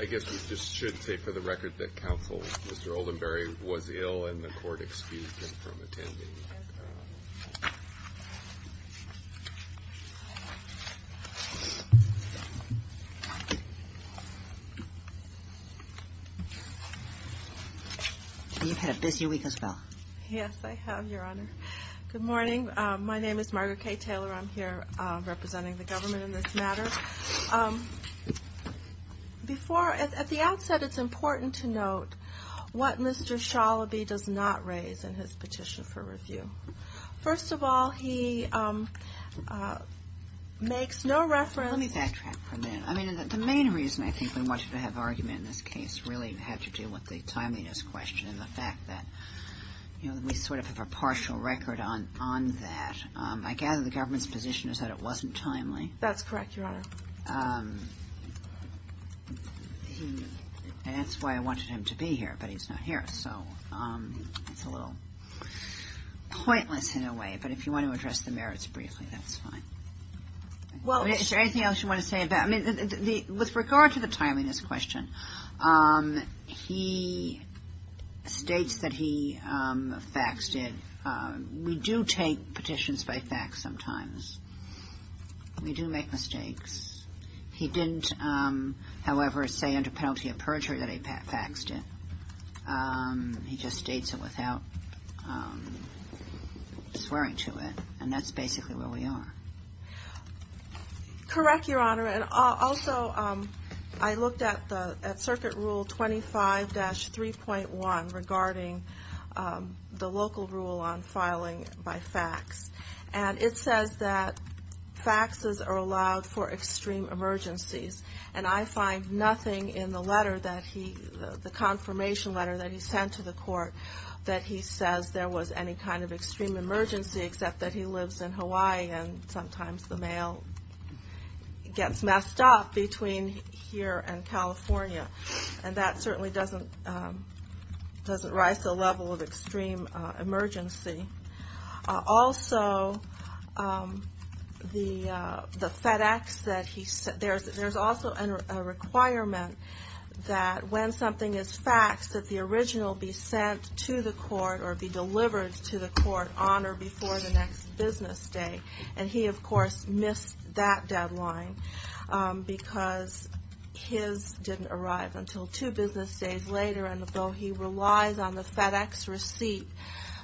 I guess we just should say for the record that counsel Mr. Oldenbury was ill and the court excused him from attending. Are you ahead of busy week as well? Yes, I have, Your Honor. Good morning. My name is Margaret K. Taylor. I'm here representing the government in this matter. At the outset, it's important to note what Mr. Shalaby does not raise in his petition for review. First of all, he makes no reference Let me backtrack for a minute. I mean, the main reason I think we wanted to have argument in this case really had to do with the timeliness question and the fact that we sort of have a partial record on that. I gather the government's position is that it wasn't timely. That's correct, Your Honor. And that's why I wanted him to be here, but he's not here. So it's a little pointless in a way, but if you want to address the merits briefly, that's fine. Is there anything else you want to say? With regard to the timeliness question, he states that he faxed it. We do take petitions by fax sometimes. We do make mistakes. He didn't, however, say under penalty of perjury that he faxed it. He just states it without swearing to it. And that's basically where we are. Correct, Your Honor. And also, I looked at Circuit Rule 25-3.1 regarding the local rule on filing by fax. And it says that faxes are allowed for extreme emergencies. And I find nothing in the letter that he, the confirmation letter that he sent to the court, that he says there was any kind of extreme emergency except that he lives in Hawaii and sometimes the mail gets messed up between here and California. And that certainly doesn't rise to the level of extreme emergency. Also, the FedEx that he sent, there's also a requirement that when something is faxed, that the original be sent to the court or be delivered to the court on or before the next business day. And he, of course, missed that deadline because his didn't arrive until two business days later. And although he relies on the FedEx receipt,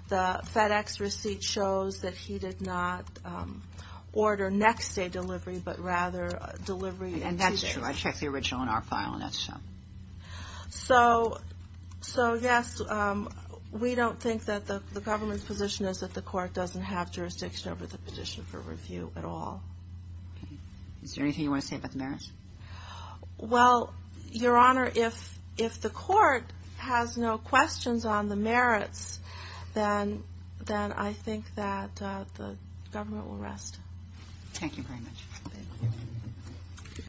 the FedEx receipt shows that he did not order next day delivery, but rather delivery the next day. And that's true. I checked the original in our file, and that's true. So, yes, we don't think that the government's position is that the court doesn't have jurisdiction over the petition for review at all. Is there anything you want to say about the merits? Well, Your Honor, if the court has no questions on the merits, then I think that the government will rest. Thank you very much.